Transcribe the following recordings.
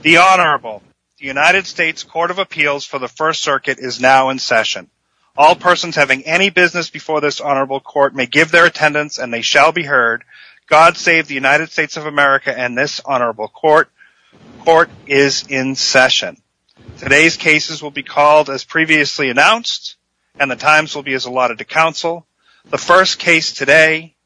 The Honorable, the United States Court of Appeals for the First Circuit is now in session. All persons having any business before this Honorable Court may give their attendance and they shall be heard. God save the United States of America and this Honorable Court. Court is in session. Today's cases will be called as previously announced, and the times will be as allotted to counsel. The first case today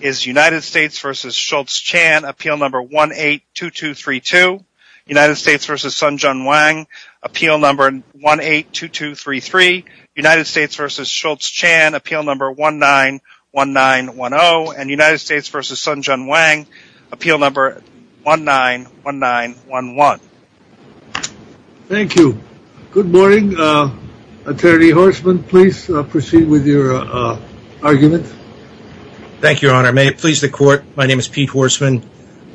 is United States v. Schulz-Chan Appeal No. 182232 United States v. Sun Jun Wang Appeal No. 182233 United States v. Schulz-Chan Appeal No. 191910 United States v. Sun Jun Wang Appeal No. 191911 Thank you. Good morning. Attorney Horstman, please proceed with your argument. Thank you, Your Honor. May it please the Court, my name is Pete Horstman.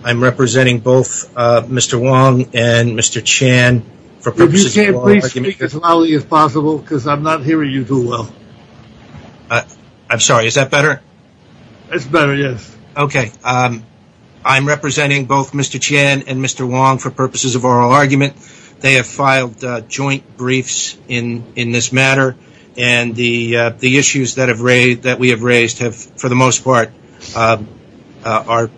I'm representing both Mr. Wang and Mr. Chan for purposes of oral argument. If you can, please speak as loudly as possible because I'm not hearing you too well. I'm sorry, is that better? It's better, yes. Okay. I'm representing both Mr. Chan and Mr. Wang for purposes of oral argument. They have filed joint briefs in this matter, and the issues that we have raised have, for the most part, are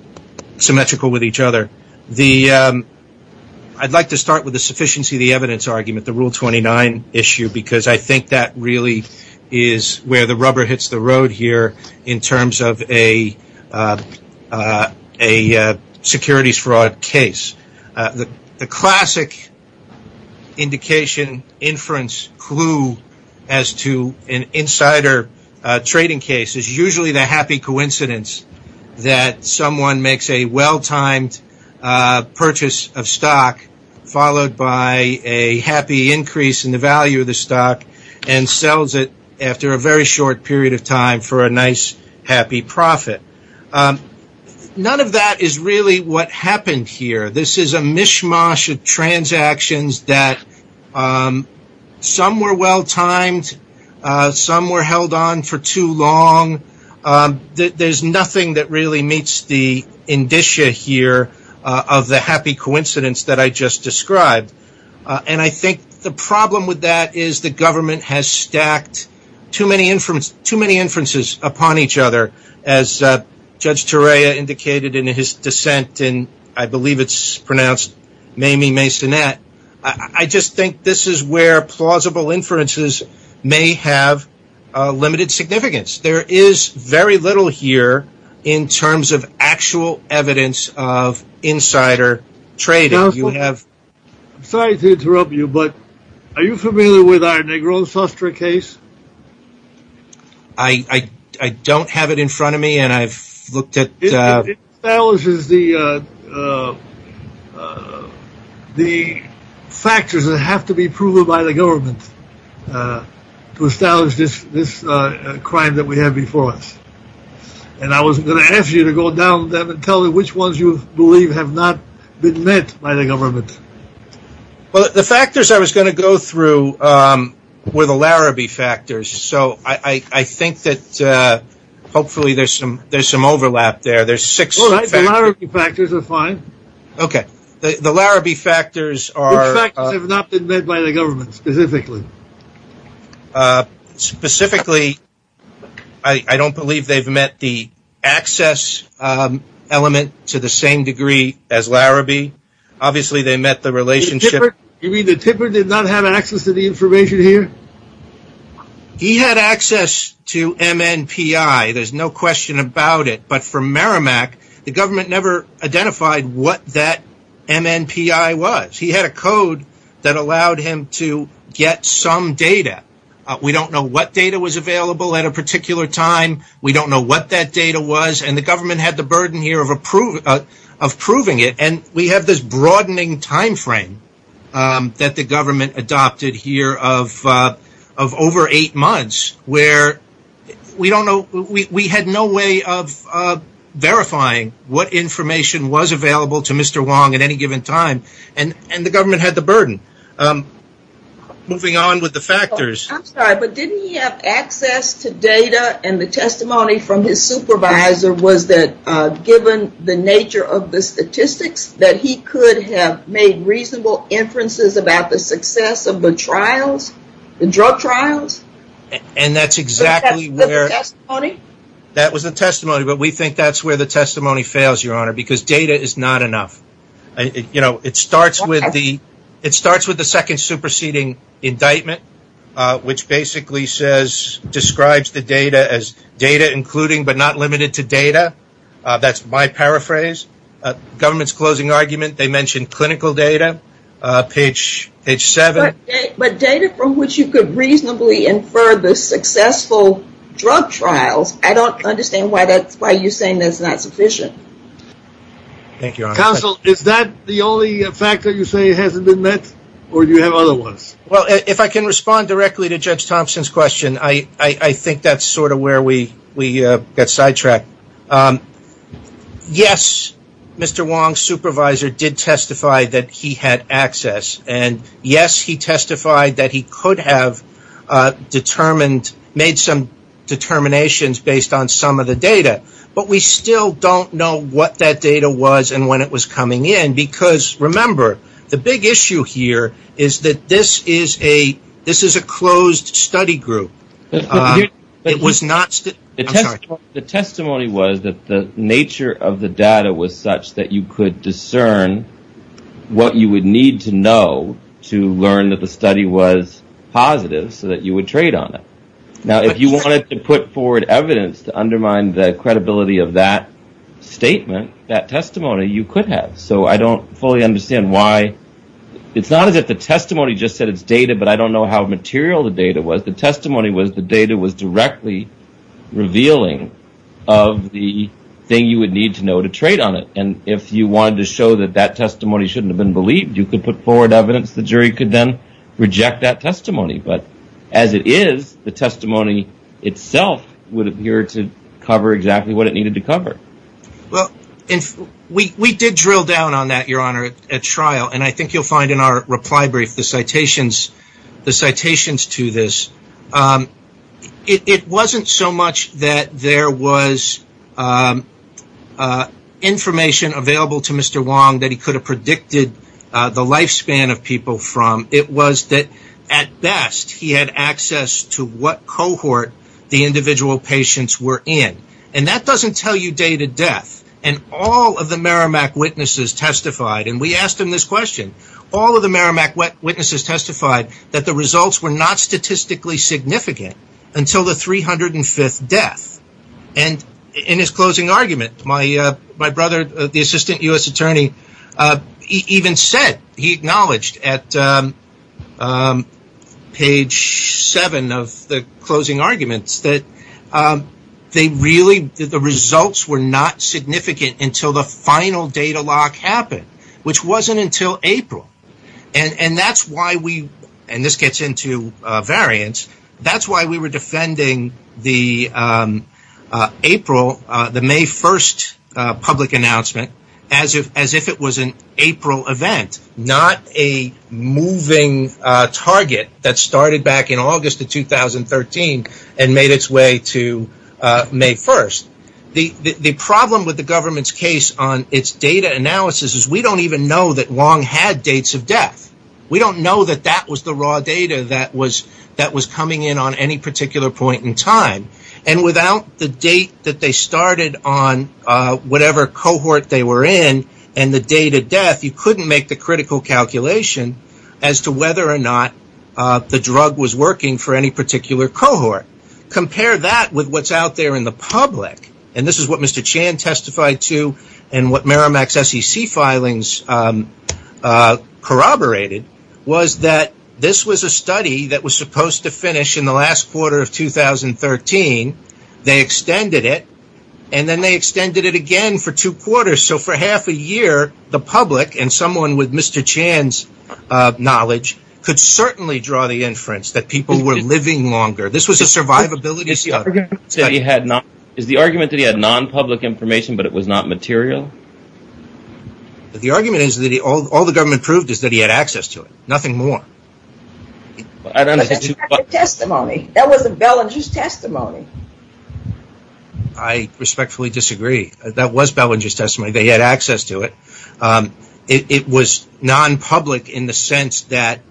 symmetrical with each other. I'd like to start with the sufficiency of the evidence argument, the Rule 29 issue, because I think that really is where the rubber hits the road here in terms of a case. The classic indication, inference, clue, as to an insider trading case is usually the happy coincidence that someone makes a well-timed purchase of stock, followed by a happy increase in the value of the stock, and sells it after a very short period of time for a nice, happy profit. None of that is really what happened here. This is a mishmash of transactions that some were well-timed, some were held on for too long. There's nothing that really meets the indicia here of the happy coincidence that I just described. I think the problem with that is the government has stacked too many inferences upon each other as Judge Turea indicated in his dissent in, I believe it's pronounced, Mamie Masonette. I just think this is where plausible inferences may have limited significance. There is very little here in terms of actual evidence of insider trading. Counsel, I'm sorry to interrupt you, but are you familiar with our Negron Sostra case? I don't have it in front of me, and I've looked at… It establishes the factors that have to be proven by the government to establish this crime that we have before us. I wasn't going to ask you to go down there and tell me which ones you believe have not been met by the government. Well, the factors I was going to go through were the Larrabee factors, so I think that hopefully there's some overlap there. The Larrabee factors are fine. Okay. The Larrabee factors are… The factors have not been met by the government specifically. Specifically, I don't believe they've met the access element to the same degree as Larrabee. Obviously, they met the relationship… You mean the tipper did not have access to the information here? He had access to MNPI. There's no question about it. But for Merrimack, the government never identified what that MNPI was. He had a code that allowed him to get some data. We don't know what data was available at a particular time. We don't know what that data was, and the government had the burden here of proving it. We have this broadening timeframe that the government adopted here of over eight months where we had no way of verifying what information was available to Mr. Wong at any given time, and the government had the burden. Moving on with the factors… I'm sorry, but didn't he have access to data and the testimony from his supervisor was that the nature of the statistics that he could have made reasonable inferences about the success of the trials, the drug trials? And that's exactly where… The testimony? That was the testimony, but we think that's where the testimony fails, Your Honor, because data is not enough. It starts with the second superseding indictment, which basically describes the data as data including but not limited to data. That's my paraphrase. Government's closing argument, they mentioned clinical data, page seven. But data from which you could reasonably infer the successful drug trials, I don't understand why you're saying that's not sufficient. Thank you, Your Honor. Counsel, is that the only factor you say hasn't been met, or do you have other ones? Well, if I can respond directly to Judge Thompson's question, I think that's sort of where we got sidetracked. Yes, Mr. Wong's supervisor did testify that he had access, and yes, he testified that he could have determined, made some determinations based on some of the data, but we still don't know what that data was and when it was coming in, because remember, the big issue here is that this is a closed study group. The testimony was that the nature of the data was such that you could discern what you would need to know to learn that the study was positive so that you would trade on it. Now, if you wanted to put forward evidence to undermine the credibility of that statement, that testimony you could have, so I don't fully understand why. It's not as if the testimony just said it's data, but I don't know how material the data was. The testimony was the data was directly revealing of the thing you would need to know to trade on it, and if you wanted to show that that testimony shouldn't have been believed, you could put forward evidence. The jury could then reject that testimony, but as it is, the testimony itself would appear to cover exactly what it needed to cover. Well, we did drill down on that, Your Honor, at trial, and I think you'll find in our reply brief the citations to this. It wasn't so much that there was information available to Mr. Wong that he could have predicted the lifespan of people from. It was that, at best, he had access to what cohort the individual patients were in, and that doesn't tell you day to death, and all of the Merrimack witnesses testified, and we asked him this question, all of the Merrimack witnesses testified that the results were not statistically significant until the 305th death, and in his closing argument, my brother, the assistant US attorney, even said, he acknowledged at page seven of the closing arguments that the results were not significant until the final data lock happened, which wasn't until April, and that's why we, and this gets into variants, that's why we were defending the April, the May 1st public announcement as if it was an event, not a moving target that started back in August of 2013 and made its way to May 1st. The problem with the government's case on its data analysis is we don't even know that Wong had dates of death. We don't know that that was the raw data that was coming in on any particular point in time, and without the date that they started on whatever cohort they were in and the date of death, you couldn't make the critical calculation as to whether or not the drug was working for any particular cohort. Compare that with what's out there in the public, and this is what Mr. Chan testified to and what Merrimack's SEC filings corroborated, was that this was a study that was supposed to finish in the last quarter of 2013. They extended it, and then they extended it again for two quarters, so for half a year, the public and someone with Mr. Chan's knowledge could certainly draw the inference that people were living longer. This was a survivability study. Is the argument that he had non-public information but it was not material? The argument is that all the government proved is that he had testimony. I respectfully disagree. That was Bellinger's testimony. They had access to it. It was non-public in the sense that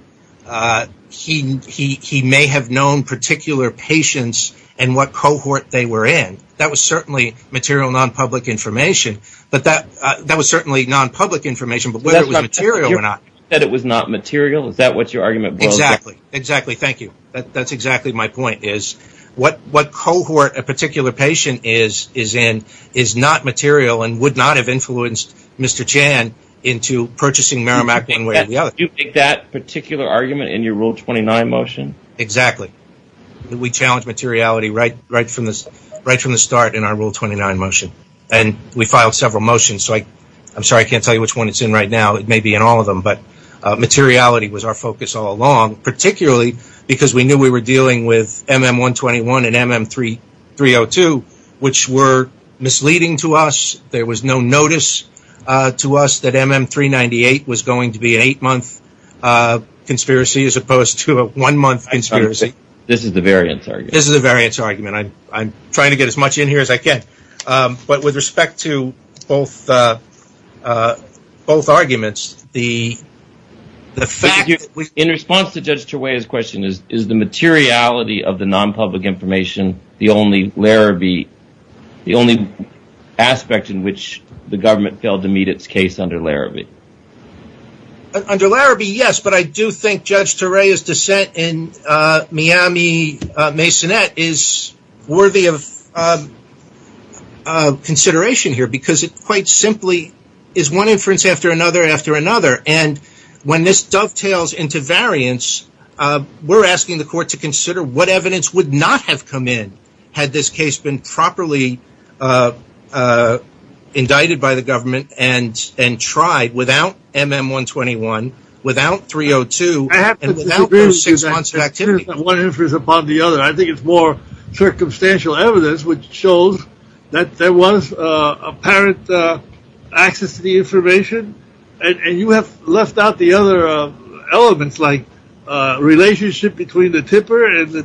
he may have known particular patients and what cohort they were in. That was certainly material non-public information, but that was certainly non-public information, but whether it was material or not. You said it was not material? Is that what your point is? What cohort a particular patient is in is not material and would not have influenced Mr. Chan into purchasing Merrimack one way or the other. Do you think that particular argument in your Rule 29 motion? Exactly. We challenged materiality right from the start in our Rule 29 motion, and we filed several motions. I'm sorry I can't tell you which one it's in right now. It may be in all of them, but materiality was our focus all along, particularly because we knew we were dealing with MM-121 and MM-302, which were misleading to us. There was no notice to us that MM-398 was going to be an eight-month conspiracy as opposed to a one-month conspiracy. This is a variance argument. This is a variance argument. I'm trying to get as much in here as I can, but with respect to both arguments, the fact... In response to Judge Turway's question, is the materiality of the non-public information the only aspect in which the government failed to meet its case under Larrabee? Under Larrabee, yes, but I do think Judge Turway's dissent in Miami-Masonet is worthy of consideration here because it quite simply is one inference after another after another, and when this dovetails into variance, we're asking the court to consider what evidence would not have come in had this case been properly indicted by the government and tried without MM-121, without 302, and without those six months of activity. I think it's more circumstantial evidence, which shows that there was apparent access to the information, and you have left out the other elements like relationship between the tipper and the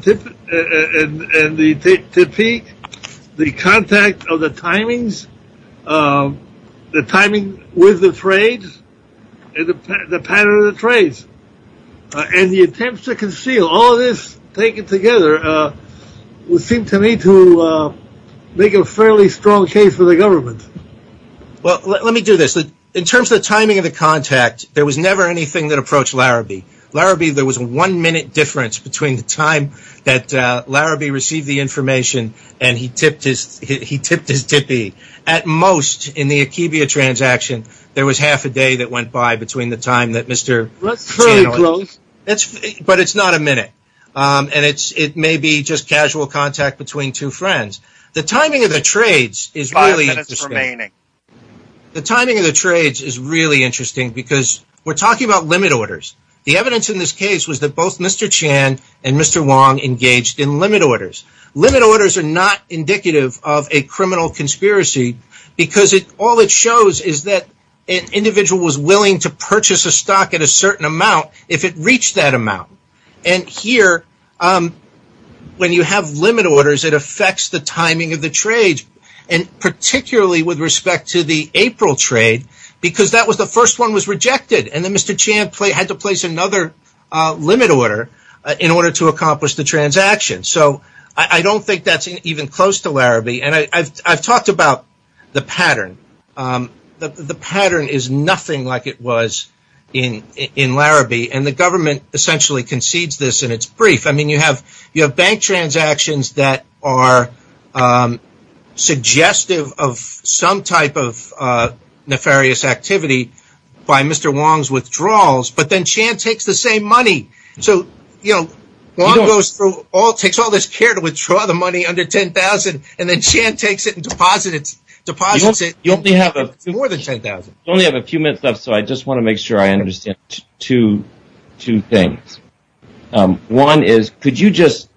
tippeek, the contact of the timings, the timing with the trades, and the pattern of the trades, and the attempts to conceal. All this taken together would seem to me to make a fairly strong case for the government. Well, let me do this. In terms of the timing of the contact, there was never anything that approached Larrabee. Larrabee, there was a one-minute difference between the time that Larrabee received the information and he tipped his tippee. At most, in the Akibia transaction, there was half a day that went by between the time that Mr. Turway... But it's not a minute, and it may be just casual contact between two friends. The timing of the trades is really interesting because we're talking about limit orders. The evidence in this case was that both Mr. Chan and Mr. Wong engaged in limit orders. Limit orders are not indicative of a criminal conspiracy because all it shows is that an amount. Here, when you have limit orders, it affects the timing of the trades, and particularly with respect to the April trade because that was the first one that was rejected, and then Mr. Chan had to place another limit order in order to accomplish the transaction. I don't think that's even close to Larrabee. I've talked about the pattern. The pattern is nothing like it was in Larrabee, and the government essentially concedes this in its brief. You have bank transactions that are suggestive of some type of nefarious activity by Mr. Wong's withdrawals, but then Chan takes the same money. So, Wong takes all this care to make sure I understand two things. One is, could you just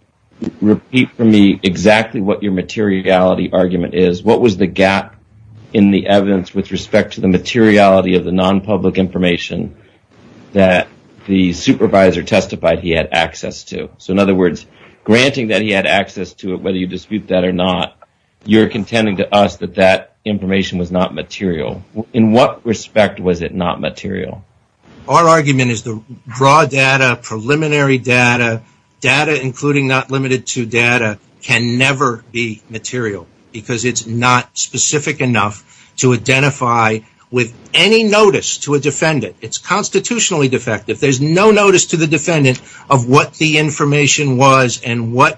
repeat for me exactly what your materiality argument is? What was the gap in the evidence with respect to the materiality of the non-public information that the supervisor testified he had access to? So, in other words, granting that he had access to it, whether you dispute that or not, you're contending to us that that information was not material. In what respect was it not material? Our argument is the broad data, preliminary data, data including not limited to data, can never be material because it's not specific enough to identify with any notice to a defendant. It's constitutionally defective. There's no notice to the defendant of what the information was and was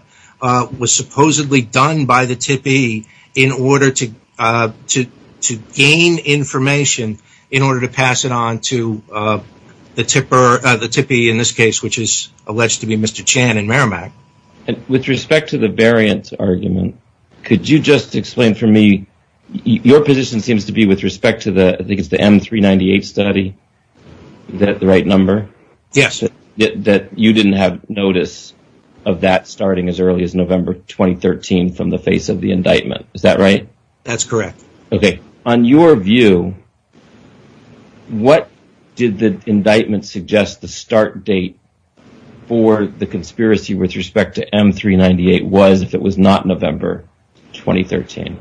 supposedly done by the tippee in order to gain information in order to pass it on to the tipper, the tippee in this case, which is alleged to be Mr. Chan and Merrimack. With respect to the variant argument, could you just explain for me, your position seems to be with respect to the, I think it's the M398 study, is that the right number? Yes. That you didn't have notice of that starting as early as November 2013 from the face of the indictment, is that right? That's correct. Okay. On your view, what did the indictment suggest the start date for the conspiracy with respect to M398 was if it was not November 2013?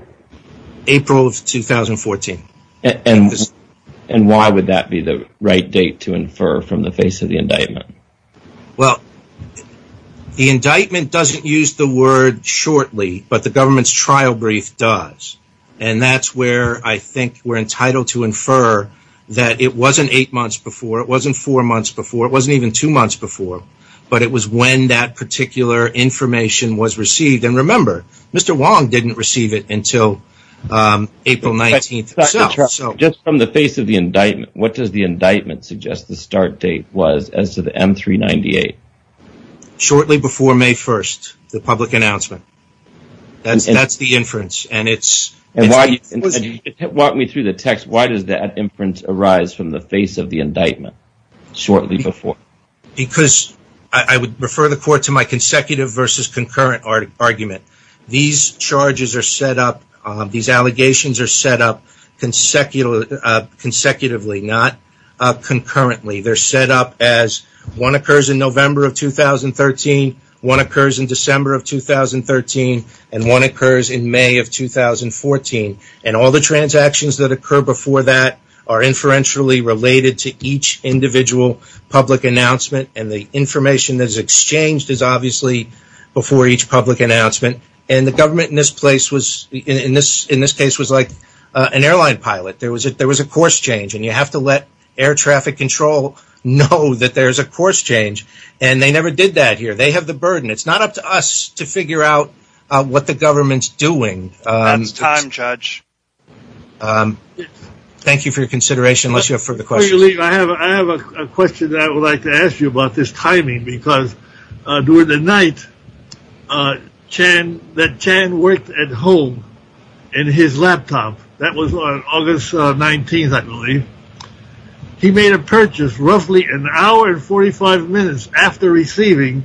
April of 2014. And why would that be the right date to infer from the face of the indictment? Well, the indictment doesn't use the word shortly, but the government's trial brief does. And that's where I think we're entitled to infer that it wasn't eight months before, it wasn't four months before, it wasn't even two months before, but it was when that particular information was received. And remember, Mr. Wong didn't receive it until April 19th. Just from the face of the indictment, what does the indictment suggest the start date was as to the M398? Shortly before May 1st, the public announcement. That's the inference. And it's... Walk me through the text. Why does that inference arise from the face of the indictment shortly before? Because I would refer the court to my consecutive versus concurrent argument. These charges are set up, these allegations are set up consecutively, not concurrently. They're set up as one occurs in November of 2013, one occurs in December of 2013, and one occurs in December of 2013. And the information that is exchanged is obviously before each public announcement. And the government in this case was like an airline pilot. There was a course change, and you have to let air traffic control know that there's a course change. And they never did that here. They have the burden. It's not up to us to figure out what the government's doing. That's time, Judge. Thank you for your consideration, unless you have further questions. I have a question that I would like to ask you about this timing, because during the night that Chan worked at home in his laptop, that was on August 19th, I believe. He made a purchase roughly an hour and 45 minutes after receiving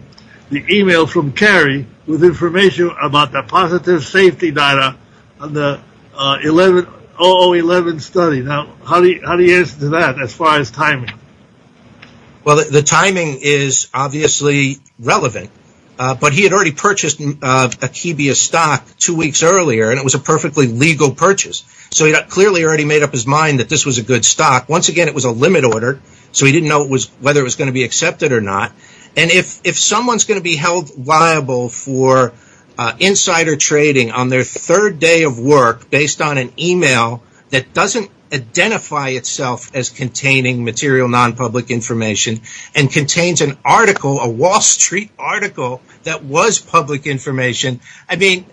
the email from Cary with information about the safety data on the OO11 study. Now, how do you answer to that as far as timing? Well, the timing is obviously relevant, but he had already purchased a Kibia stock two weeks earlier, and it was a perfectly legal purchase. So he clearly already made up his mind that this was a good stock. Once again, it was a limit order, so he didn't know whether it was going to be accepted or not. And if someone's going to be held liable for insider trading on their third day of work based on an email that doesn't identify itself as containing material, non-public information, and contains an article, a Wall Street article that was public information, I mean,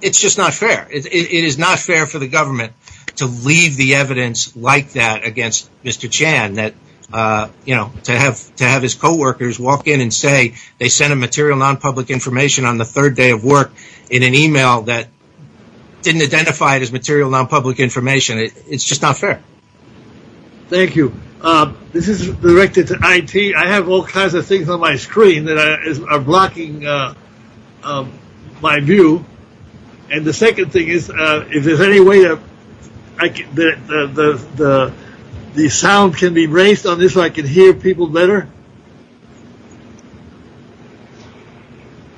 it's just not fair. It is not fair for the government to leave the evidence like that Mr. Chan that, you know, to have his co-workers walk in and say they sent a material non-public information on the third day of work in an email that didn't identify it as material non-public information. It's just not fair. Thank you. This is directed to IT. I have all kinds of things on my screen that are blocking my view. And the second thing is, if there's any way that the sound can be raised on this so I can hear people better.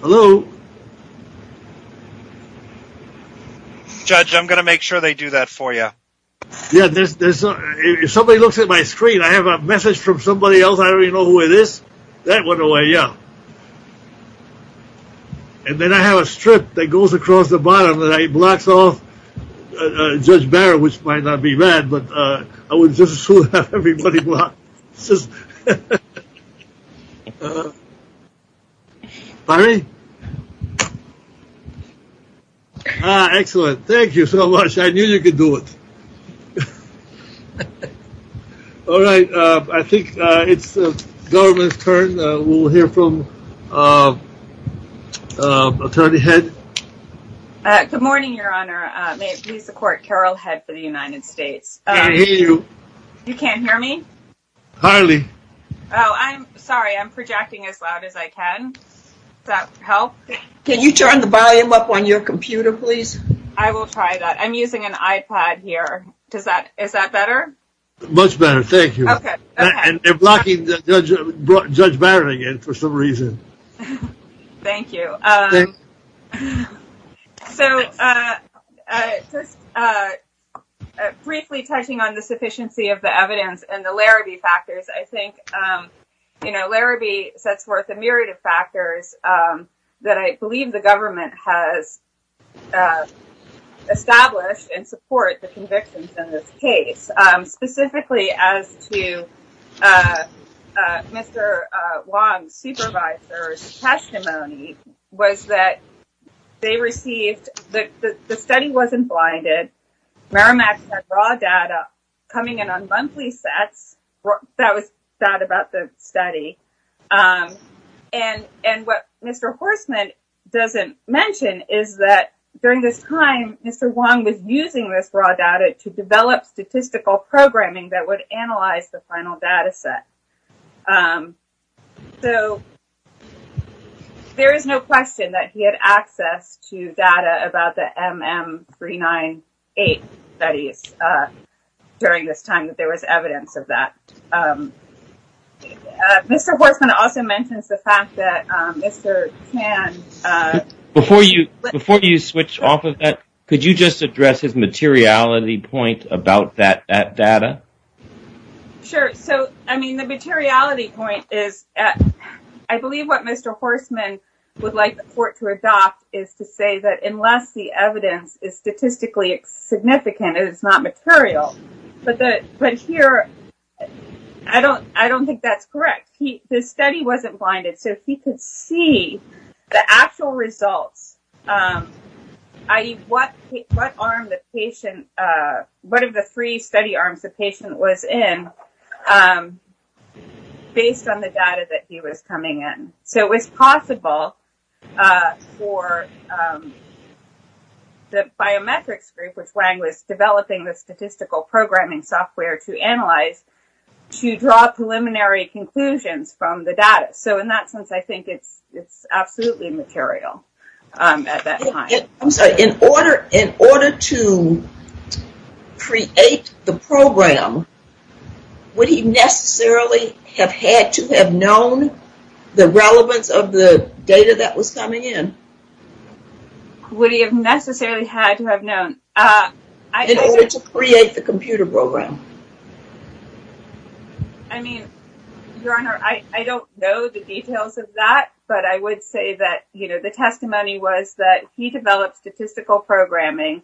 Hello? Judge, I'm going to make sure they do that for you. Yeah, if somebody looks at my screen, I have a message from somebody else, I don't even know who it is. That went away, yeah. And then I have a strip that goes across the bottom and it blocks off Judge Barrett, which might not be bad, but I would just as soon have everybody block. Byron? Ah, excellent. Thank you so much. I knew you could do it. All right, I think it's the government's turn. We'll hear from Attorney Head. Good morning, Your Honor. May it please the court, Carol Head for the United States. I can't hear you. You can't hear me? Hardly. Oh, I'm sorry. I'm projecting as loud as I can. Does that help? Can you turn the volume up on your computer, please? I will try that. I'm using an iPad here. Is that better? Much better, thank you. And they're blocking Judge Barrett again for some reason. Thank you. So, just briefly touching on the sufficiency of the evidence and the Larrabee factors, I think Larrabee sets forth a myriad of factors that I believe the government has established and support the convictions in this case, specifically as to Mr. Wong's supervisor's testimony was that they received, the study wasn't blinded. Merrimack had raw data coming in on monthly sets. That was sad about the study. And what Mr. Wong was using this raw data to develop statistical programming that would analyze the final data set. So, there is no question that he had access to data about the MM398 studies during this time that there was evidence of that. Mr. Horstman also mentions the fact that Mr. Tan… Before you switch off of that, could you just address his materiality point about that data? Sure. So, I mean, the materiality point is, I believe what Mr. Horstman would like the court to adopt is to say that unless the evidence is statistically significant, it is not material. But here, I don't think that's correct. The study wasn't blinded. So, he could see the actual results, i.e. what arm the patient, one of the three study arms the patient was in based on the data that he was coming in. So, it was possible for the biometrics group, which Wang was developing the statistical programming software to analyze, to draw preliminary conclusions from the data. So, in that sense, I think it's absolutely material at that time. I'm sorry. In order to create the program, would he necessarily have had to have known the relevance of the data in order to create the computer program? I mean, Your Honor, I don't know the details of that, but I would say that the testimony was that he developed statistical programming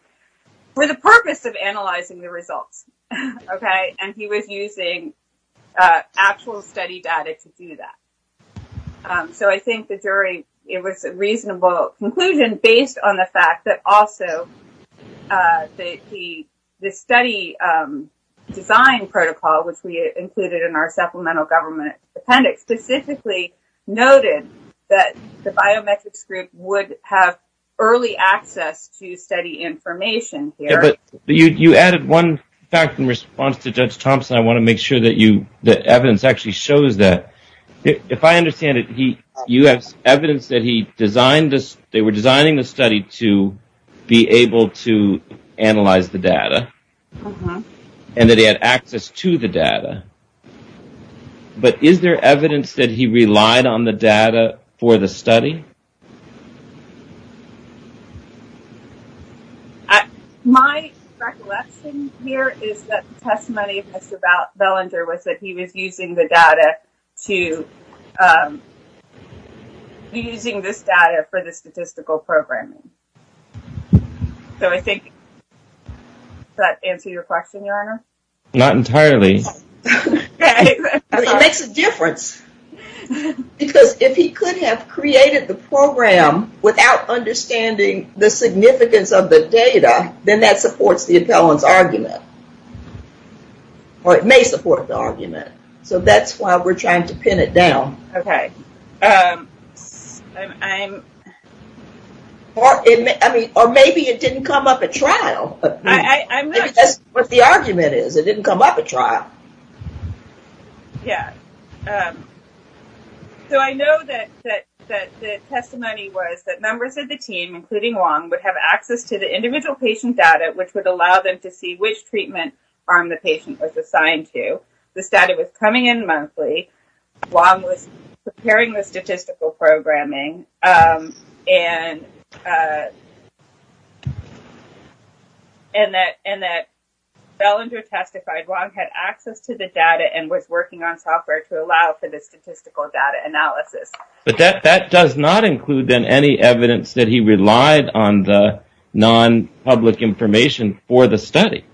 for the purpose of analyzing the results, and he was using actual study data to do that. So, I think the jury, it was a reasonable conclusion based on the fact that also the study design protocol, which we included in our supplemental government appendix, specifically noted that the biometrics group would have early access to study information here. But you added one fact in response to Judge Thompson. I want to make sure that evidence actually shows that. If I understand it, you have evidence that they were designing the study to be able to analyze the data and that he had access to the data. But is there evidence that he relied on the data for the study? My recollection here is that the testimony of Mr. Belanger was that he was using the data to be using this data for the statistical programming. So, I think that answer your question, Your Honor? Not entirely. It makes a difference because if he could have created the program without understanding the significance of the data, then that supports the appellant's argument, or it may support the argument. So, that's why we're trying to pin it down. Okay. Or maybe it didn't come up at trial. That's what the argument is. It didn't come up at trial. Yeah. So, I know that the testimony was that members of the team, including Wong, would have access to the individual patient data, which would allow them to see which treatment arm the patient was assigned to. The study was coming in monthly. Wong was preparing the statistical programming and that Belanger testified Wong had access to the data and was working on software to allow for the statistical data analysis. But that does not include, then, any evidence that he relied on the non-public information for the study.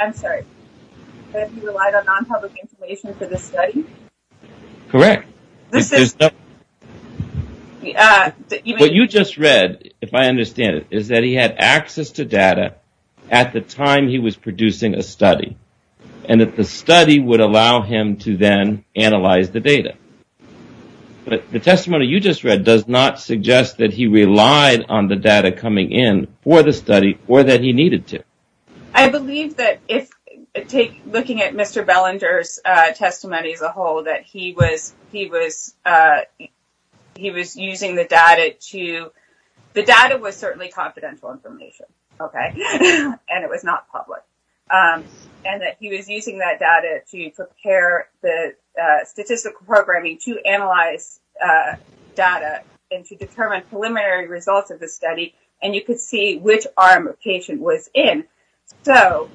I'm sorry. That he relied on non-public information for the study? Correct. What you just read, if I understand it, is that he had access to data at the time he was producing a study and that the study would allow him to then analyze the data. But the testimony you just read does not suggest that he relied on the data coming in for the study or that he needed to. I believe that, looking at Mr. Belanger's testimony as a whole, that the data was certainly confidential information, okay? And it was not public. And that he was using that data to prepare the statistical programming to analyze data and to determine preliminary results of the study. And you could see which arm a patient was in. So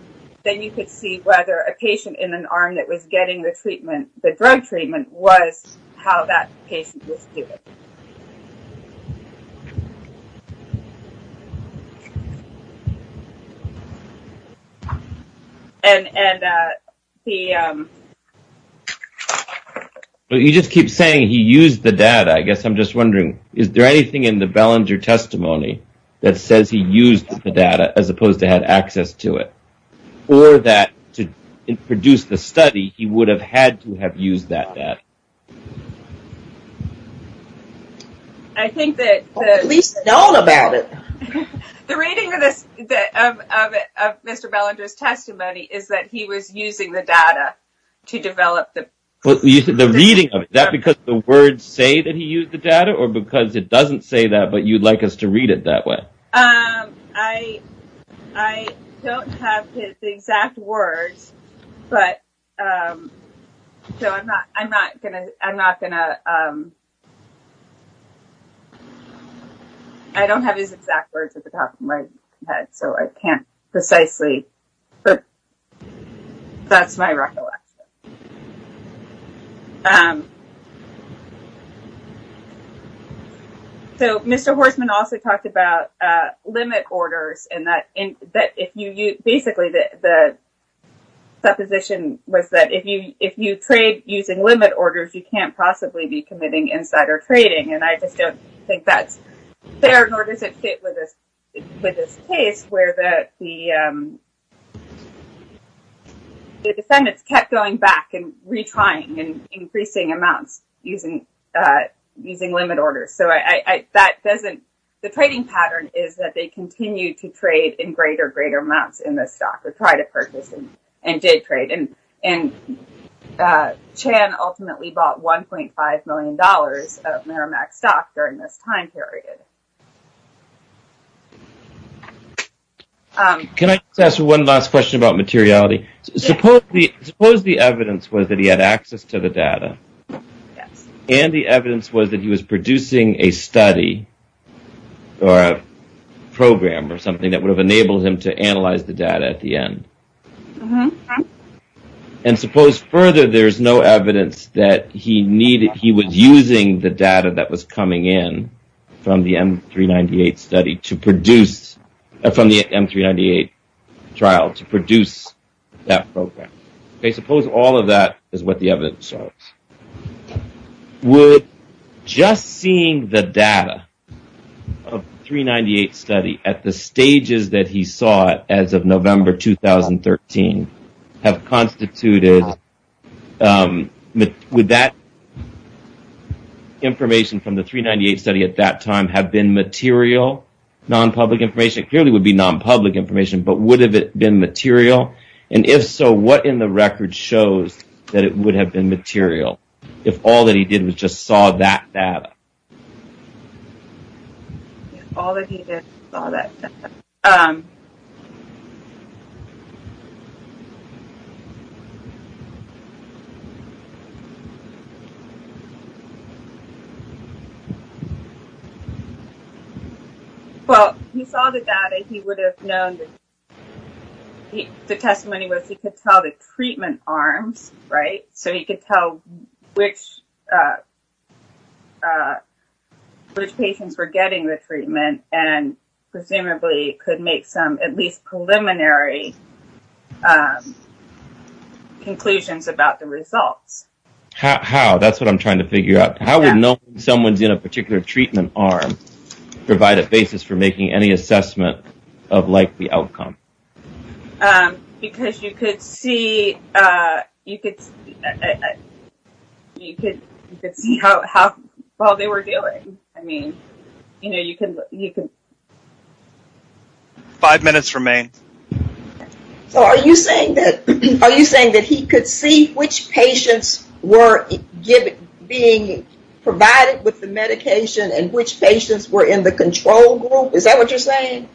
then you could see whether a patient in an arm that was getting the treatment, the drug treatment, was how that patient was doing. But you just keep saying he used the data. I guess I'm just wondering, is there anything in the Belanger testimony that says he used the data as opposed to had access to it? Or that to produce the study he would have had to have used that data? I think that... At least we know about it. The reading of Mr. Belanger's testimony is that he was using the data to develop the... The reading of it. Is that because the words say that he used the data or because it doesn't say that, but you'd like us to read it that way? I don't have his exact words, but... So I'm not going to... I don't have his exact words at the top of my head, so I can't precisely... So Mr. Horstman also talked about limit orders and that if you... Basically, the supposition was that if you trade using limit orders, you can't possibly be committing insider trading. And I just don't think that's fair, nor does it fit with this case where the defendants kept going back and retrying and increasing amounts using limit orders. So that doesn't... The trading pattern is that they continue to trade in greater, greater amounts in this stock or try to purchase and did trade. And Chan ultimately bought $1.5 million of Merrimack stock during this time period. Can I just ask one last question about materiality? Suppose the evidence was that access to the data and the evidence was that he was producing a study or a program or something that would have enabled him to analyze the data at the end. And suppose further, there's no evidence that he was using the data that was coming in from the M398 study to produce... From the M398 trial to produce that program. Okay, suppose all of that is what the evidence shows. Would just seeing the data of M398 study at the stages that he saw it as of November 2013 have constituted... Would that information from the M398 study at that time have been material, non-public information? It clearly would be non-public information, but would have it been the record shows that it would have been material if all that he did was just saw that data? All that he did, saw that data. Well, he saw the data, he would have known that... The testimony was he could tell the treatment arms, right? So he could tell which patients were getting the treatment and presumably could make some at least preliminary conclusions about the results. How? That's what I'm trying to figure out. How would knowing someone's in a particular treatment arm provide a basis for making any assessment of likely outcome? Because you could see how well they were doing. I mean, you know, you can... Five minutes remain. So are you saying that he could see which patients were being provided with the medication and which patients were in the control group? Is that what you're saying?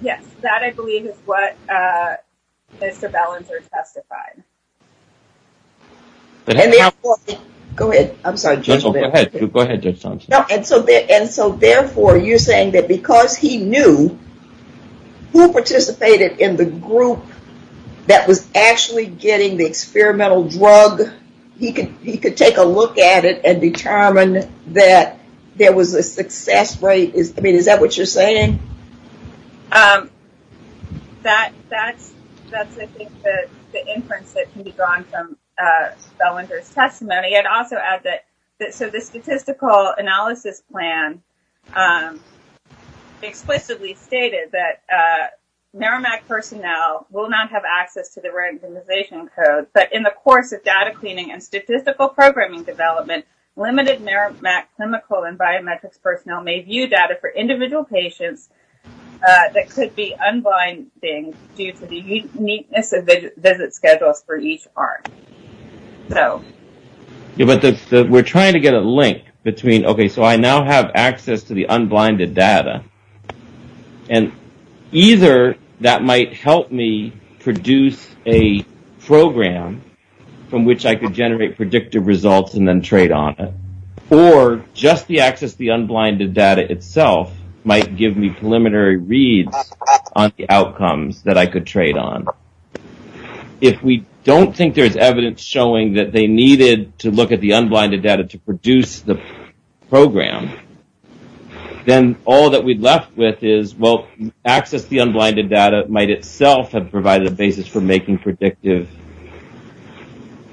Yes, that I believe is what Mr. Ballenger testified. Go ahead. I'm sorry. Go ahead. Go ahead. And so therefore you're saying that because he knew who participated in the group that was actually getting the experimental drug, he could take a look at it and determine that there was a success rate? I mean, is that what you're saying? That's, I think, the inference that can be drawn from Ballenger's testimony. I'd also add that... So the statistical analysis plan explicitly stated that Merrimack personnel will not have access to the randomization code, but in the course of data cleaning and statistical programming development, limited Merrimack chemical and biometrics personnel may view data for individual patients that could be unblinded due to the uniqueness of the visit schedules for each arm. Yeah, but we're trying to get a link between, okay, so I now have access to the unblinded data, and either that might help me produce a program from which I could generate predictive results and then trade on it, or just the access to the unblinded data itself might give me preliminary reads on the outcomes that I could trade on. If we don't think there's evidence showing that they needed to look at the unblinded data to produce the program, then all that we're left with is, well, access to the unblinded data might itself have provided a basis for making predictive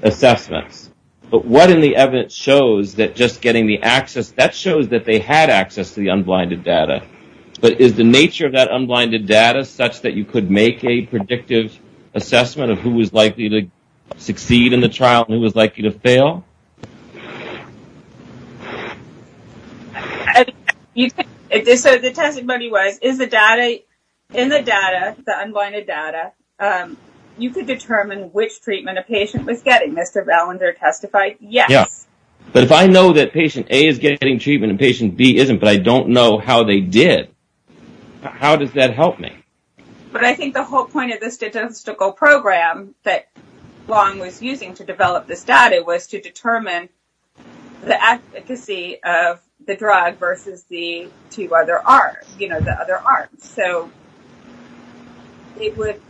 assessments, but what in the evidence shows that just getting the access, that shows that they had access to the unblinded data, but is the nature of that unblinded data such that you could make a predictive assessment of who was likely to succeed in the trial and who was likely to fail? So, the testimony was, in the data, the unblinded data, you could determine which treatment a patient was getting, Mr. Ballinger testified, yes. But if I know that patient A is getting treatment and patient B isn't, but I don't know how they did, how does that help me? But I think the whole point of the statistical program that Long was using to develop this data was to determine the efficacy of the drug versus the two other arms, you know, the other arms. So, it would,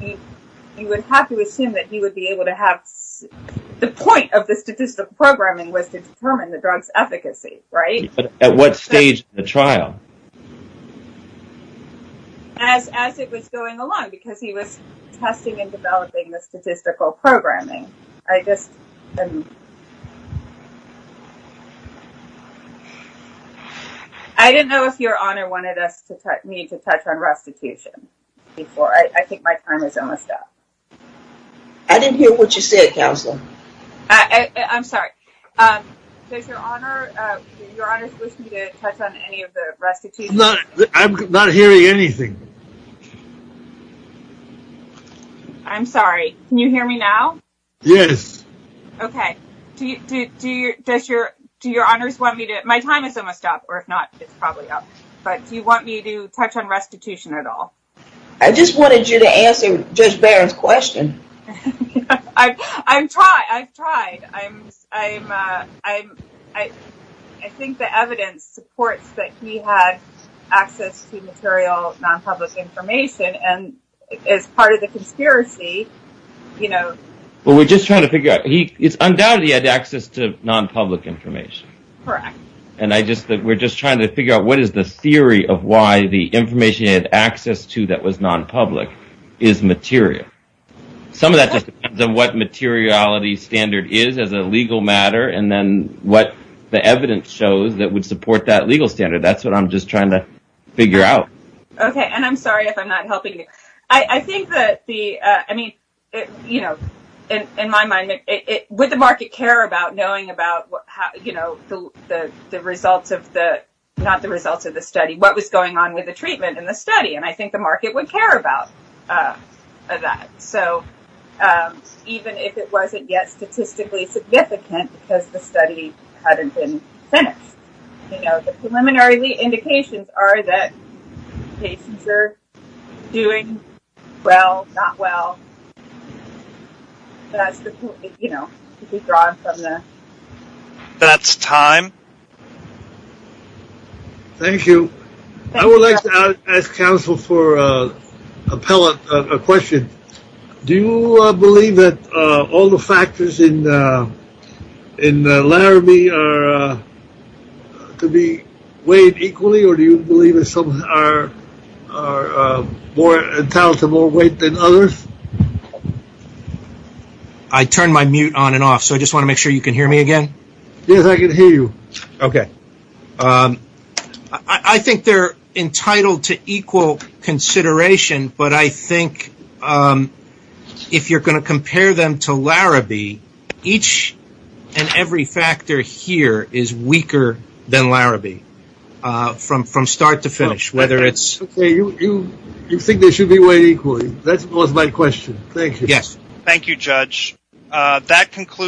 you would have to assume that he would be able to have, the point of the statistical programming was to determine the drug's efficacy, right? At what stage in the trial? As, as it was going along, because he was testing and developing the statistical programming. I just, I didn't know if your honor wanted us to touch, me to touch on restitution before, I think my time is almost up. I didn't hear what you said, counselor. I'm sorry. Does your honor, your honors wish me to touch on any of the restitution No, I'm not hearing anything. I'm sorry. Can you hear me now? Yes. Okay. Do you, do you, does your, do your honors want me to, my time is almost up, or if not, it's probably up, but do you want me to touch on restitution at all? I just wanted you to answer Judge Barron's question. I, I've tried, I've tried. I'm, I'm, I'm, I, I think the evidence supports that he had access to material non-public information and as part of the conspiracy, you know. Well, we're just trying to figure out, he, it's undoubted he had access to non-public information. Correct. And I just, we're just trying to figure out what is the theory of why the information he had access to that was non-public is material. Some of that just depends on what materiality standard is as a legal matter. And then what the evidence shows that would support that legal standard. That's what I'm just trying to figure out. Okay. And I'm sorry if I'm not helping you. I think that the, I mean, you know, in my mind, would the market care about knowing about how, you know, the, the results of the, not the results of the study, what was going on with the treatment and the study. I think the market would care about that. So even if it wasn't yet statistically significant, because the study hadn't been finished, you know, the preliminary indications are that patients are doing well, not well, that's the, you know, to be drawn from the. That's time. Okay. Thank you. I would like to ask counsel for a pellet, a question. Do you believe that all the factors in, in Laramie are to be weighed equally, or do you believe that some are, are more intelligent, more weight than others? I turned my mute on and off. So I just want to make sure you can hear me again. Yes, I can hear you. Okay. I think they're entitled to equal consideration, but I think if you're going to compare them to Laramie, each and every factor here is weaker than Laramie from, from start to finish, whether it's. You think they should be weighed equally. That was my question. Thank you. Yes. Thank you, Judge. That concludes.